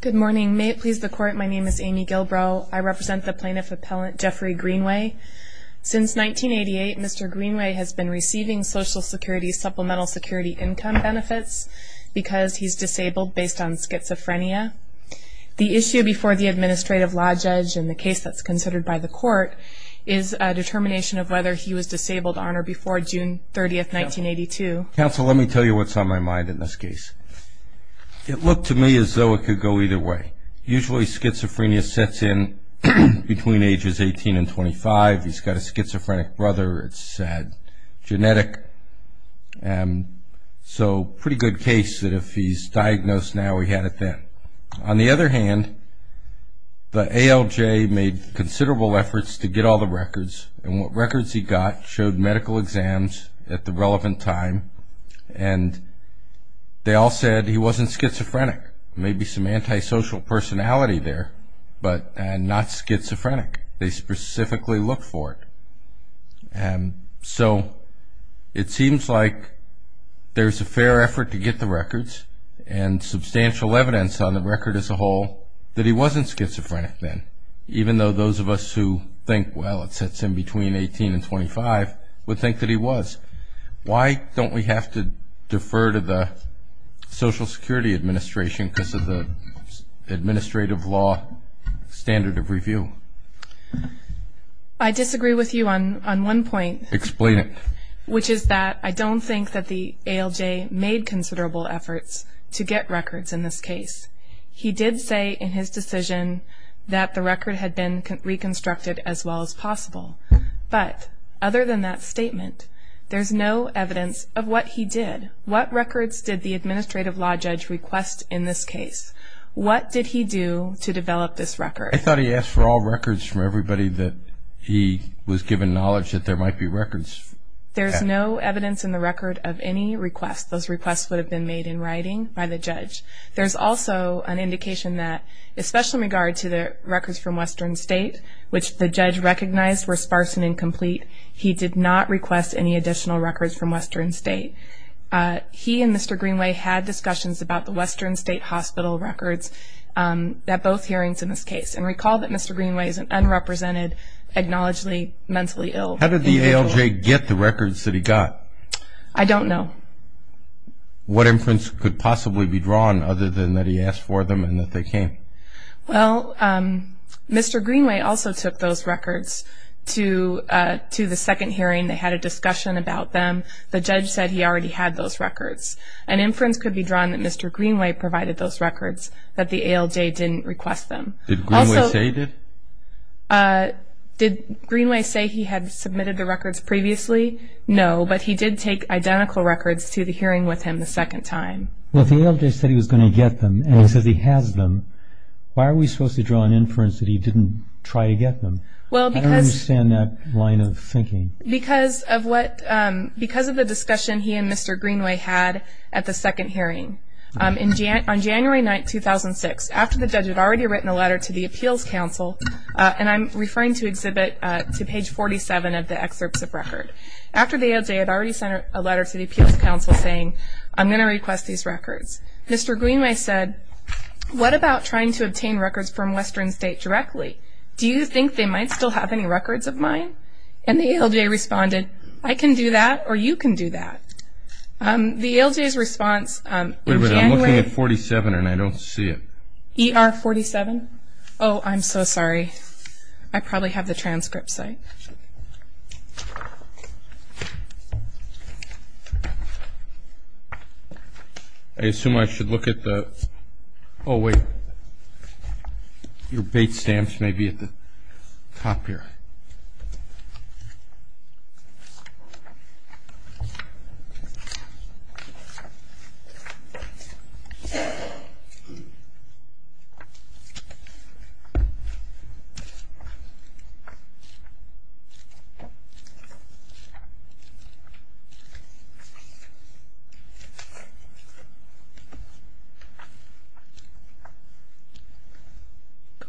Good morning, may it please the court. My name is Amy Gilbrow. I represent the plaintiff appellant Jeffrey Greenway Since 1988. Mr. Greenway has been receiving Social Security supplemental security income benefits Because he's disabled based on schizophrenia the issue before the administrative law judge and the case that's considered by the court is Determination of whether he was disabled on or before June 30th 1982 counsel. Let me tell you what's on my mind in this case It looked to me as though it could go either way usually schizophrenia sets in Between ages 18 and 25. He's got a schizophrenic brother. It's said genetic and So pretty good case that if he's diagnosed now, we had it then on the other hand the ALJ made considerable efforts to get all the records and what records he got showed medical exams at the relevant time and They all said he wasn't schizophrenic maybe some antisocial personality there, but and not schizophrenic they specifically look for it and so it seems like there's a fair effort to get the records and Substantial evidence on the record as a whole that he wasn't schizophrenic then even though those of us who think well It sets in between 18 and 25 would think that he was Why don't we have to defer to the Social Security Administration because of the administrative law standard of review I Disagree with you on on one point explain it Which is that I don't think that the ALJ made considerable efforts to get records in this case He did say in his decision that the record had been Reconstructed as well as possible But other than that statement, there's no evidence of what he did What records did the administrative law judge request in this case? What did he do to develop this record? I thought he asked for all records for everybody that he was given knowledge that there might be records There's no evidence in the record of any request those requests would have been made in writing by the judge There's also an indication that especially in regard to the records from Western State Which the judge recognized were sparse and incomplete. He did not request any additional records from Western State He and mr. Greenway had discussions about the Western State Hospital records That both hearings in this case and recall that mr. Greenway is an unrepresented Acknowledgedly mentally ill how did the ALJ get the records that he got? I don't know What inference could possibly be drawn other than that he asked for them and that they came well Mr. Greenway also took those records to To the second hearing they had a discussion about them The judge said he already had those records an inference could be drawn that mr Greenway provided those records that the ALJ didn't request them Dated Did Greenway say he had submitted the records previously No, but he did take identical records to the hearing with him the second time Well, the ALJ said he was going to get them and he says he has them Why are we supposed to draw an inference that he didn't try to get them? Well, because I understand that line of thinking because of what because of the discussion he and mr Greenway had at the second hearing In Jan on January 9th 2006 after the judge had already written a letter to the Appeals Council And I'm referring to exhibit to page 47 of the excerpts of record After the ALJ had already sent a letter to the Appeals Council saying I'm gonna request these records. Mr. Greenway said What about trying to obtain records from Western State directly? Do you think they might still have any records of mine and the ALJ responded I can do that or you can do that The ALJs response 47 and I don't see it. He are 47. Oh, I'm so sorry. I probably have the transcript site I assume I should look at the oh wait your bait stamps may be at the top here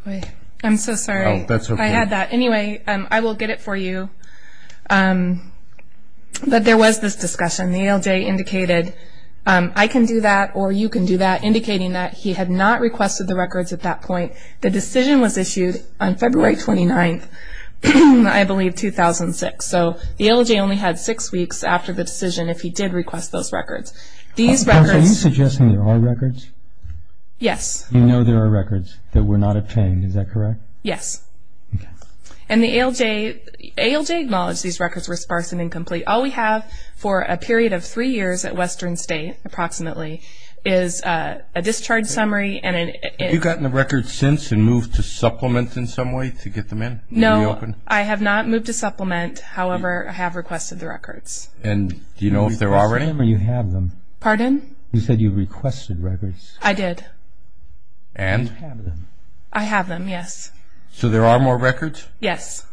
I I'm so sorry. I had that. Anyway, I will get it for you But There was this discussion the ALJ indicated I can do that or you can do that indicating that he had not requested the records at that point The decision was issued on February 29th. I Believe 2006 so the ALJ only had six weeks after the decision if he did request those records these records Are you suggesting there are records? Yes, you know, there are records that were not obtained. Is that correct? Yes And the ALJ ALJ acknowledged these records were sparse and incomplete all we have for a period of three years at Western State approximately is a Discharge summary and you've gotten the record since and moved to supplement in some way to get them in no I have not moved to supplement However, I have requested the records and do you know if there are any where you have them pardon? You said you requested records I did I have them. Yes, so there are more records. Yes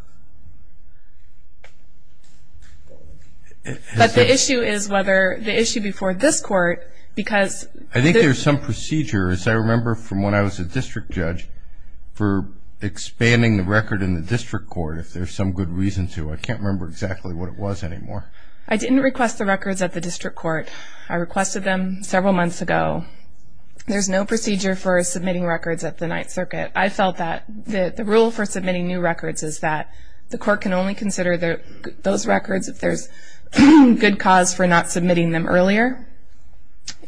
But the issue is whether the issue before this court because I think there's some procedure as I remember from when I was a district judge for Expanding the record in the district court if there's some good reason to I can't remember exactly what it was anymore I didn't request the records at the district court. I requested them several months ago There's no procedure for submitting records at the Ninth Circuit I felt that the the rule for submitting new records is that the court can only consider that those records if there's Good cause for not submitting them earlier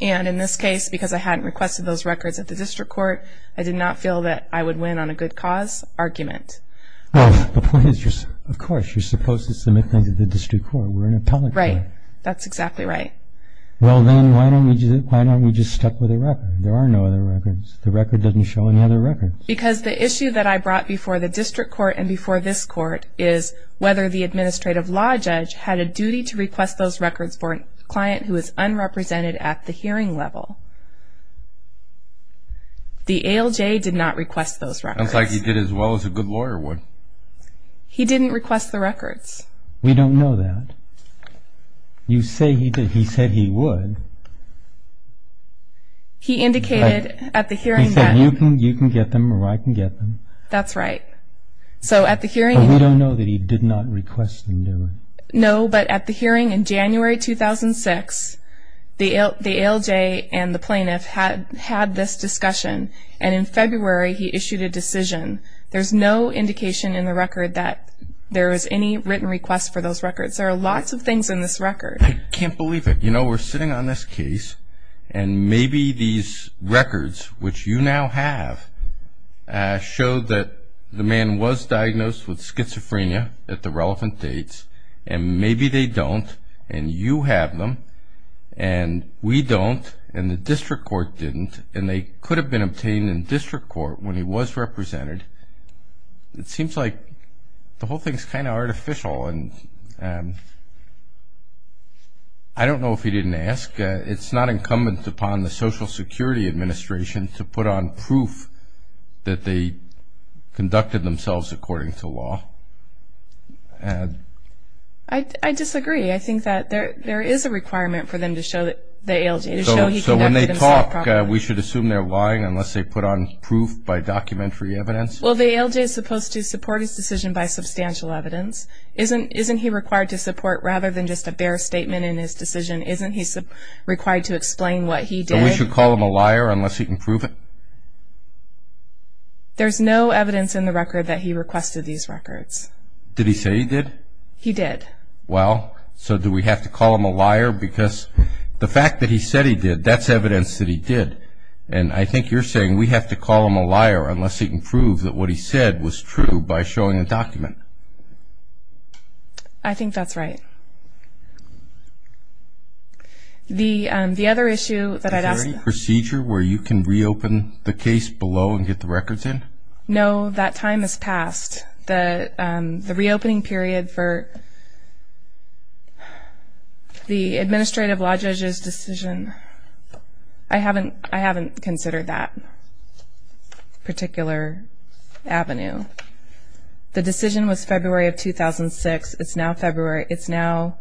And in this case because I hadn't requested those records at the district court I did not feel that I would win on a good cause argument Well, the point is just of course you're supposed to submit things at the district court. We're in a public right? That's exactly right Well, then why don't we just why don't we just stuck with a record? There are no other records the record doesn't show any other records because the issue that I brought before the district court and before this Court is whether the administrative law judge had a duty to request those records for a client who is unrepresented at the hearing level The ALJ did not request those records like you did as well as a good lawyer would He didn't request the records. We don't know that You say he did he said he would He indicated at the hearing that you can you can get them or I can get them that's right So at the hearing we don't know that he did not request them. No, but at the hearing in January 2006 The ALJ and the plaintiff had had this discussion and in February he issued a decision There's no indication in the record that there is any written request for those records there are lots of things in this record I can't believe it. You know, we're sitting on this case and Maybe these records which you now have showed that the man was diagnosed with schizophrenia at the relevant dates and maybe they don't and you have them and We don't and the district court didn't and they could have been obtained in district court when he was represented it seems like the whole thing is kind of artificial and I Don't know if he didn't ask it's not incumbent upon the Social Security Administration to put on proof that they conducted themselves according to law and I Disagree, I think that there there is a requirement for them to show that the ALJ We should assume they're lying unless they put on proof by documentary evidence Well, the ALJ is supposed to support his decision by substantial evidence Isn't isn't he required to support rather than just a bare statement in his decision? Isn't he required to explain what he did we should call him a liar unless he can prove it There's no evidence in the record that he requested these records did he say he did he did well So do we have to call him a liar? Because the fact that he said he did that's evidence that he did and I think you're saying we have to call him a liar Unless he can prove that what he said was true by showing a document. I Think that's right The the other issue that I'd ask procedure where you can reopen the case below and get the records in No, that time has passed the the reopening period for The administrative law judges decision I haven't I haven't considered that Particular Avenue the decision was February of 2006. It's now February. It's now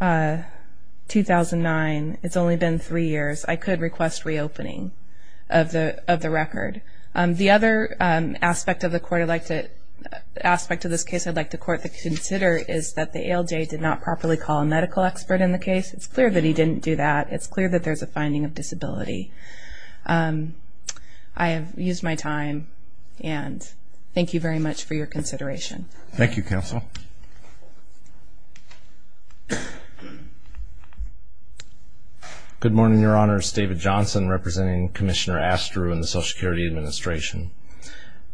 2009 it's only been three years. I could request reopening of the of the record the other aspect of the court elected Aspect of this case I'd like to court that consider is that the ALJ did not properly call a medical expert in the case It's clear that he didn't do that. It's clear that there's a finding of disability I Have used my time and thank you very much for your consideration. Thank you counsel Good morning, your honors David Johnson representing Commissioner Astru and the Social Security Administration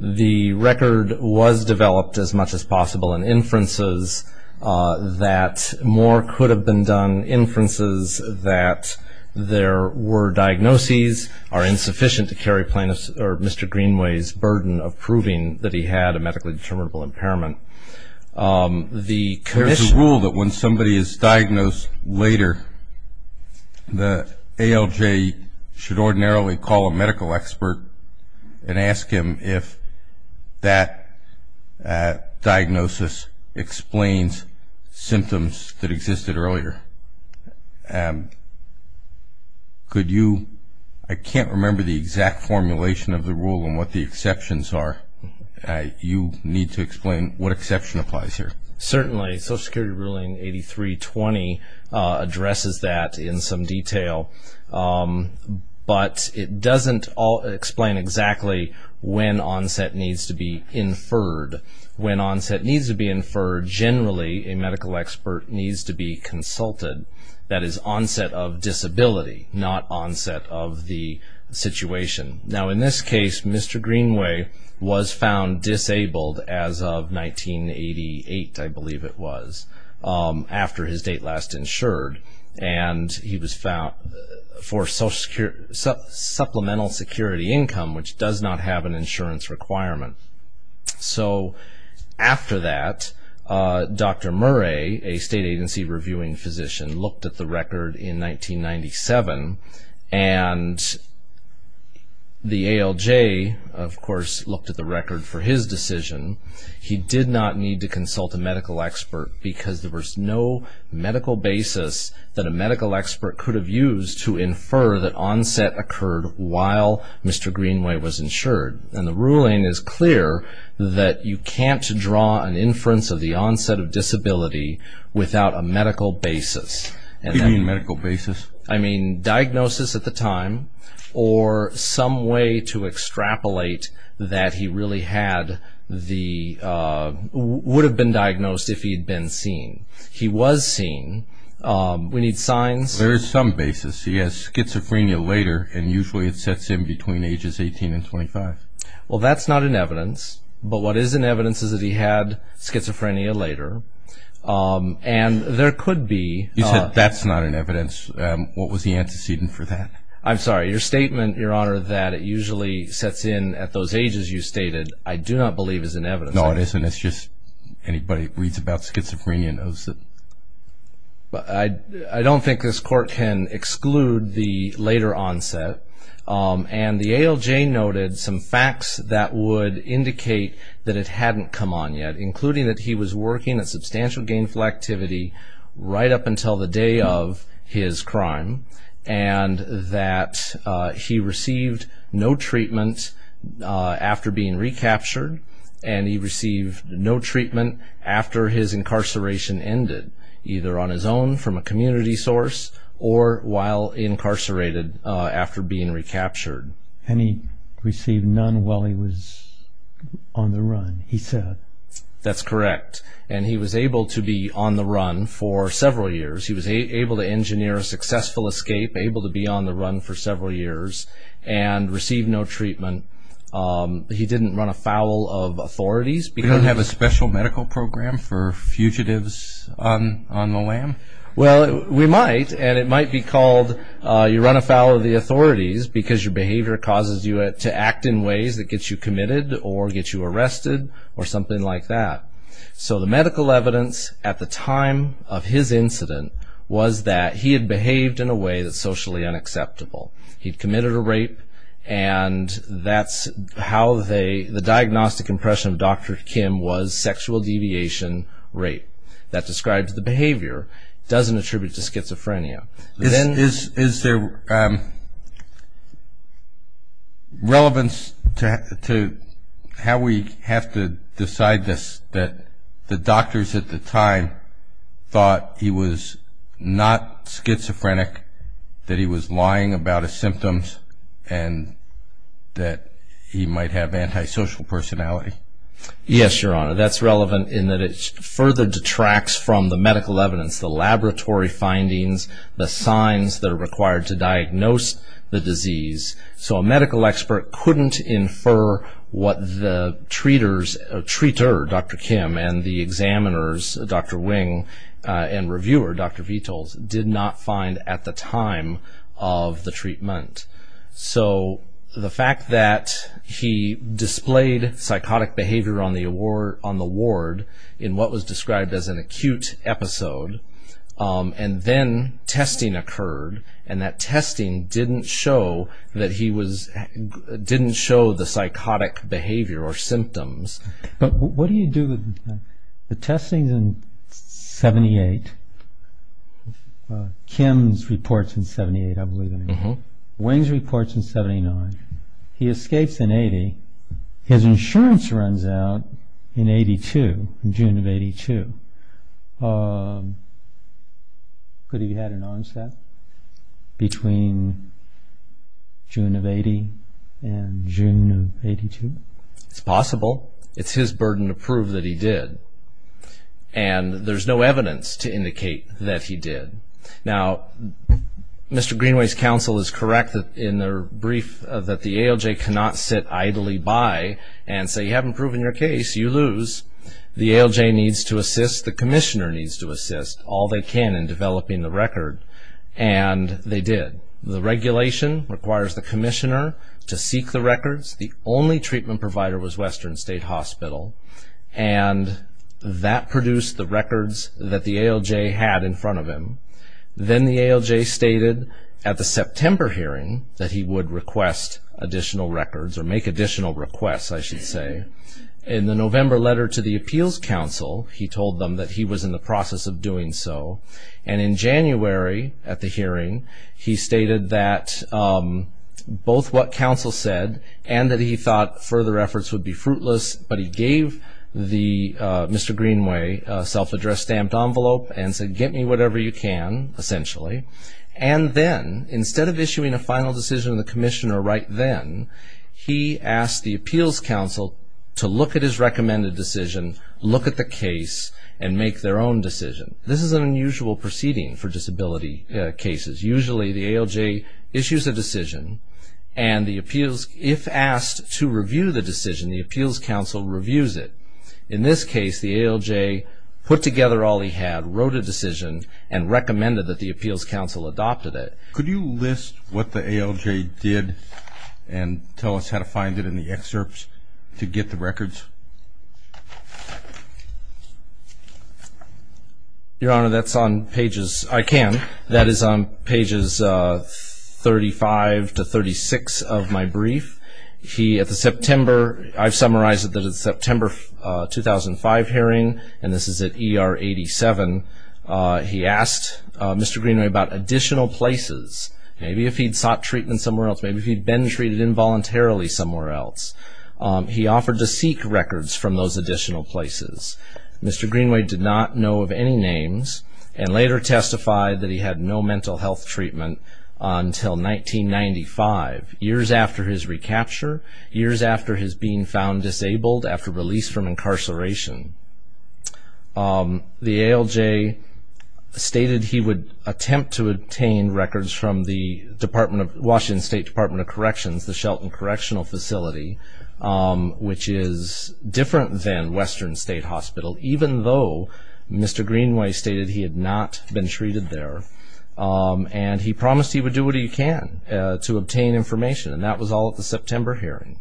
The record was developed as much as possible and inferences That more could have been done inferences that There were diagnoses are insufficient to carry plaintiffs or mr. Greenway's burden of proving that he had a medically determinable impairment The condition rule that when somebody is diagnosed later The ALJ should ordinarily call a medical expert and ask him if that Diagnosis explains symptoms that existed earlier Could you I can't remember the exact formulation of the rule and what the exceptions are You need to explain what exception applies here certainly Social Security ruling 1983-20 Addresses that in some detail But it doesn't all explain exactly when onset needs to be inferred When onset needs to be inferred generally a medical expert needs to be consulted That is onset of disability not onset of the situation now in this case. Mr Greenway was found disabled as of 1988 I believe it was After his date last insured and he was found for Social Security Supplemental security income which does not have an insurance requirement so after that Dr. Murray a state agency reviewing physician looked at the record in 1997 and The ALJ of course looked at the record for his decision He did not need to consult a medical expert because there was no Medical basis that a medical expert could have used to infer that onset occurred while Mr. Greenway was insured and the ruling is clear that you can't draw an inference of the onset of disability Without a medical basis and then medical basis. I mean diagnosis at the time or some way to Extrapolate that he really had the Would have been diagnosed if he'd been seen he was seen We need signs. There's some basis. He has schizophrenia later and usually it sets in between ages 18 and 25 Well, that's not an evidence. But what is an evidence is that he had schizophrenia later? And there could be you said that's not an evidence. What was the antecedent for that? I'm sorry your statement, Your Honor That it usually sets in at those ages. You stated I do not believe is an evidence. No, it isn't It's just anybody reads about schizophrenia knows that But I I don't think this court can exclude the later onset And the ALJ noted some facts that would indicate that it hadn't come on yet including that he was working a substantial gainful activity right up until the day of his crime and that He received no treatment after being recaptured and he received no treatment after his incarceration ended either on his own from a community source or while Incarcerated after being recaptured and he received none while he was On the run he said that's correct. And he was able to be on the run for several years He was able to engineer a successful escape able to be on the run for several years and received no treatment He didn't run afoul of authorities because I have a special medical program for fugitives on on the lam Well, we might and it might be called You run afoul of the authorities because your behavior causes you it to act in ways that gets you committed or gets you arrested Or something like that So the medical evidence at the time of his incident was that he had behaved in a way that's socially unacceptable he'd committed a rape and That's how they the diagnostic impression of dr. Kim was sexual deviation Rape that describes the behavior doesn't attribute to schizophrenia. Then is is there? Relevance to How we have to decide this that the doctors at the time Thought he was not schizophrenic that he was lying about his symptoms and That he might have antisocial personality Yes, your honor That's relevant in that it further detracts from the medical evidence the laboratory findings the signs that are required to diagnose The disease so a medical expert couldn't infer what the treaters a treater Dr. Kim and the examiners dr. Wing and reviewer. Dr. V tolls did not find at the time of the treatment so the fact that He displayed psychotic behavior on the award on the ward in what was described as an acute episode And then testing occurred and that testing didn't show that he was Didn't show the psychotic behavior or symptoms, but what do you do with the testings in? 78 Kim's reports in 78 I believe in the home wings reports in 79 he escapes in 80 His insurance runs out in 82 in June of 82 Could he had an onset between June of 80 and June 82. It's possible. It's his burden to prove that he did and There's no evidence to indicate that he did now Mr. Greenway's counsel is correct that in their brief that the ALJ cannot sit idly by and say you haven't proven your case you lose the ALJ needs to assist the Commissioner needs to assist all they can in developing the record and they did the regulation requires the Commissioner to seek the records the only treatment provider was Western State Hospital and That produced the records that the ALJ had in front of him Then the ALJ stated at the September hearing that he would request Additional records or make additional requests I should say in the November letter to the Appeals Council He told them that he was in the process of doing so and in January at the hearing. He stated that Both what counsel said and that he thought further efforts would be fruitless, but he gave the mr Greenway self-addressed stamped envelope and said get me whatever you can Essentially and then instead of issuing a final decision of the Commissioner right then He asked the Appeals Council to look at his recommended decision look at the case and make their own decision This is an unusual proceeding for disability cases usually the ALJ issues a decision and The appeals if asked to review the decision the Appeals Council reviews it in this case the ALJ Put together all he had wrote a decision and recommended that the Appeals Council adopted it Could you list what the ALJ did and tell us how to find it in the excerpts to get the records? Your honor that's on pages I can that is on pages 35 to 36 of my brief he at the September. I've summarized it that it's September 2005 hearing and this is at er 87 He asked mr. Greenway about additional places. Maybe if he'd sought treatment somewhere else Maybe he'd been treated involuntarily somewhere else He offered to seek records from those additional places Mr. Greenway did not know of any names and later testified that he had no mental health treatment until 1995 years after his recapture years after his being found disabled after release from incarceration The ALJ Stated he would attempt to obtain records from the Department of Washington State Department of Corrections the Shelton Correctional Facility Which is different than Western State Hospital, even though mr. Greenway stated he had not been treated there And he promised he would do what he can to obtain information and that was all at the September hearing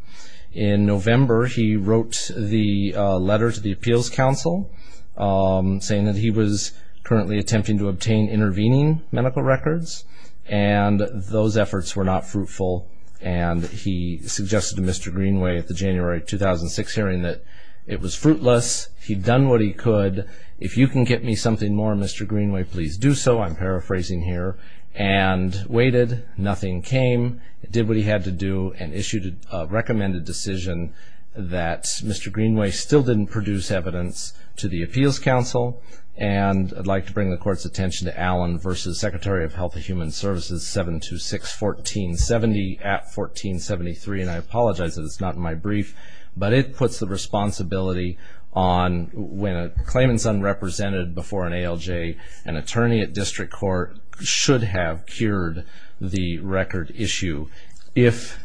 in November he wrote the letter to the Appeals Council saying that he was currently attempting to obtain intervening medical records and Those efforts were not fruitful and he suggested to mr. Greenway at the January 2006 hearing that it was fruitless He'd done what he could if you can get me something more. Mr. Greenway, please do so I'm paraphrasing here and Waited nothing came it did what he had to do and issued a recommended decision That's mr. Greenway still didn't produce evidence to the Appeals Council And I'd like to bring the court's attention to Allen versus Secretary of Health of Human Services 7 to 6 1470 at 1473 and I apologize that it's not in my brief, but it puts the responsibility on When a claimant's unrepresented before an ALJ an attorney at district court should have cured the record issue if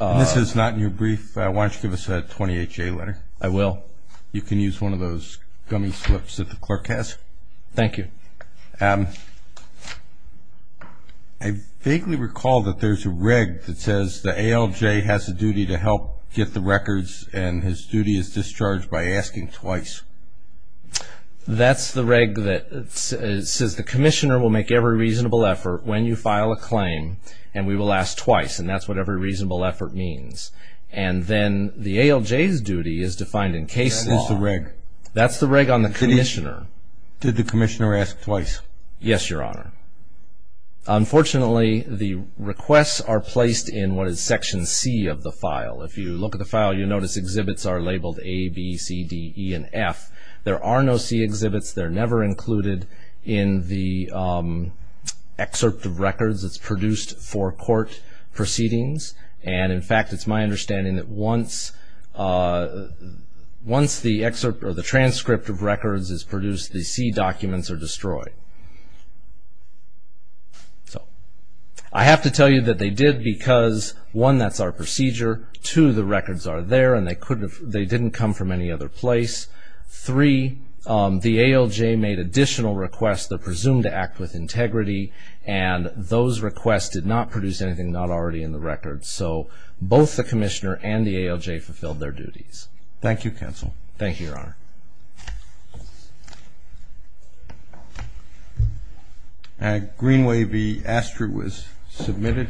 This is not in your brief. Why don't you give us a 28 J letter? I will you can use one of those gummy slips that the clerk has. Thank you. Um, I Vaguely recall that there's a rig that says the ALJ has a duty to help get the records and his duty is discharged by asking twice That's the reg that says the commissioner will make every reasonable effort when you file a claim and we will ask twice and that's what every reasonable effort means and Then the ALJ's duty is defined in case. This is the reg. That's the reg on the commissioner Did the commissioner ask twice? Yes, your honor Unfortunately, the requests are placed in what is section C of the file If you look at the file, you'll notice exhibits are labeled a B C D E and F. There are no C exhibits they're never included in the Excerpt of records that's produced for court proceedings. And in fact, it's my understanding that once Once the excerpt or the transcript of records is produced the C documents are destroyed I Have to tell you that they did because one that's our procedure to the records are there and they couldn't they didn't come from any other place three the ALJ made additional requests that presumed to act with integrity and Those requests did not produce anything not already in the record. So both the commissioner and the ALJ fulfilled their duties Thank you counsel. Thank you, your honor And Greenway be Astro was submitted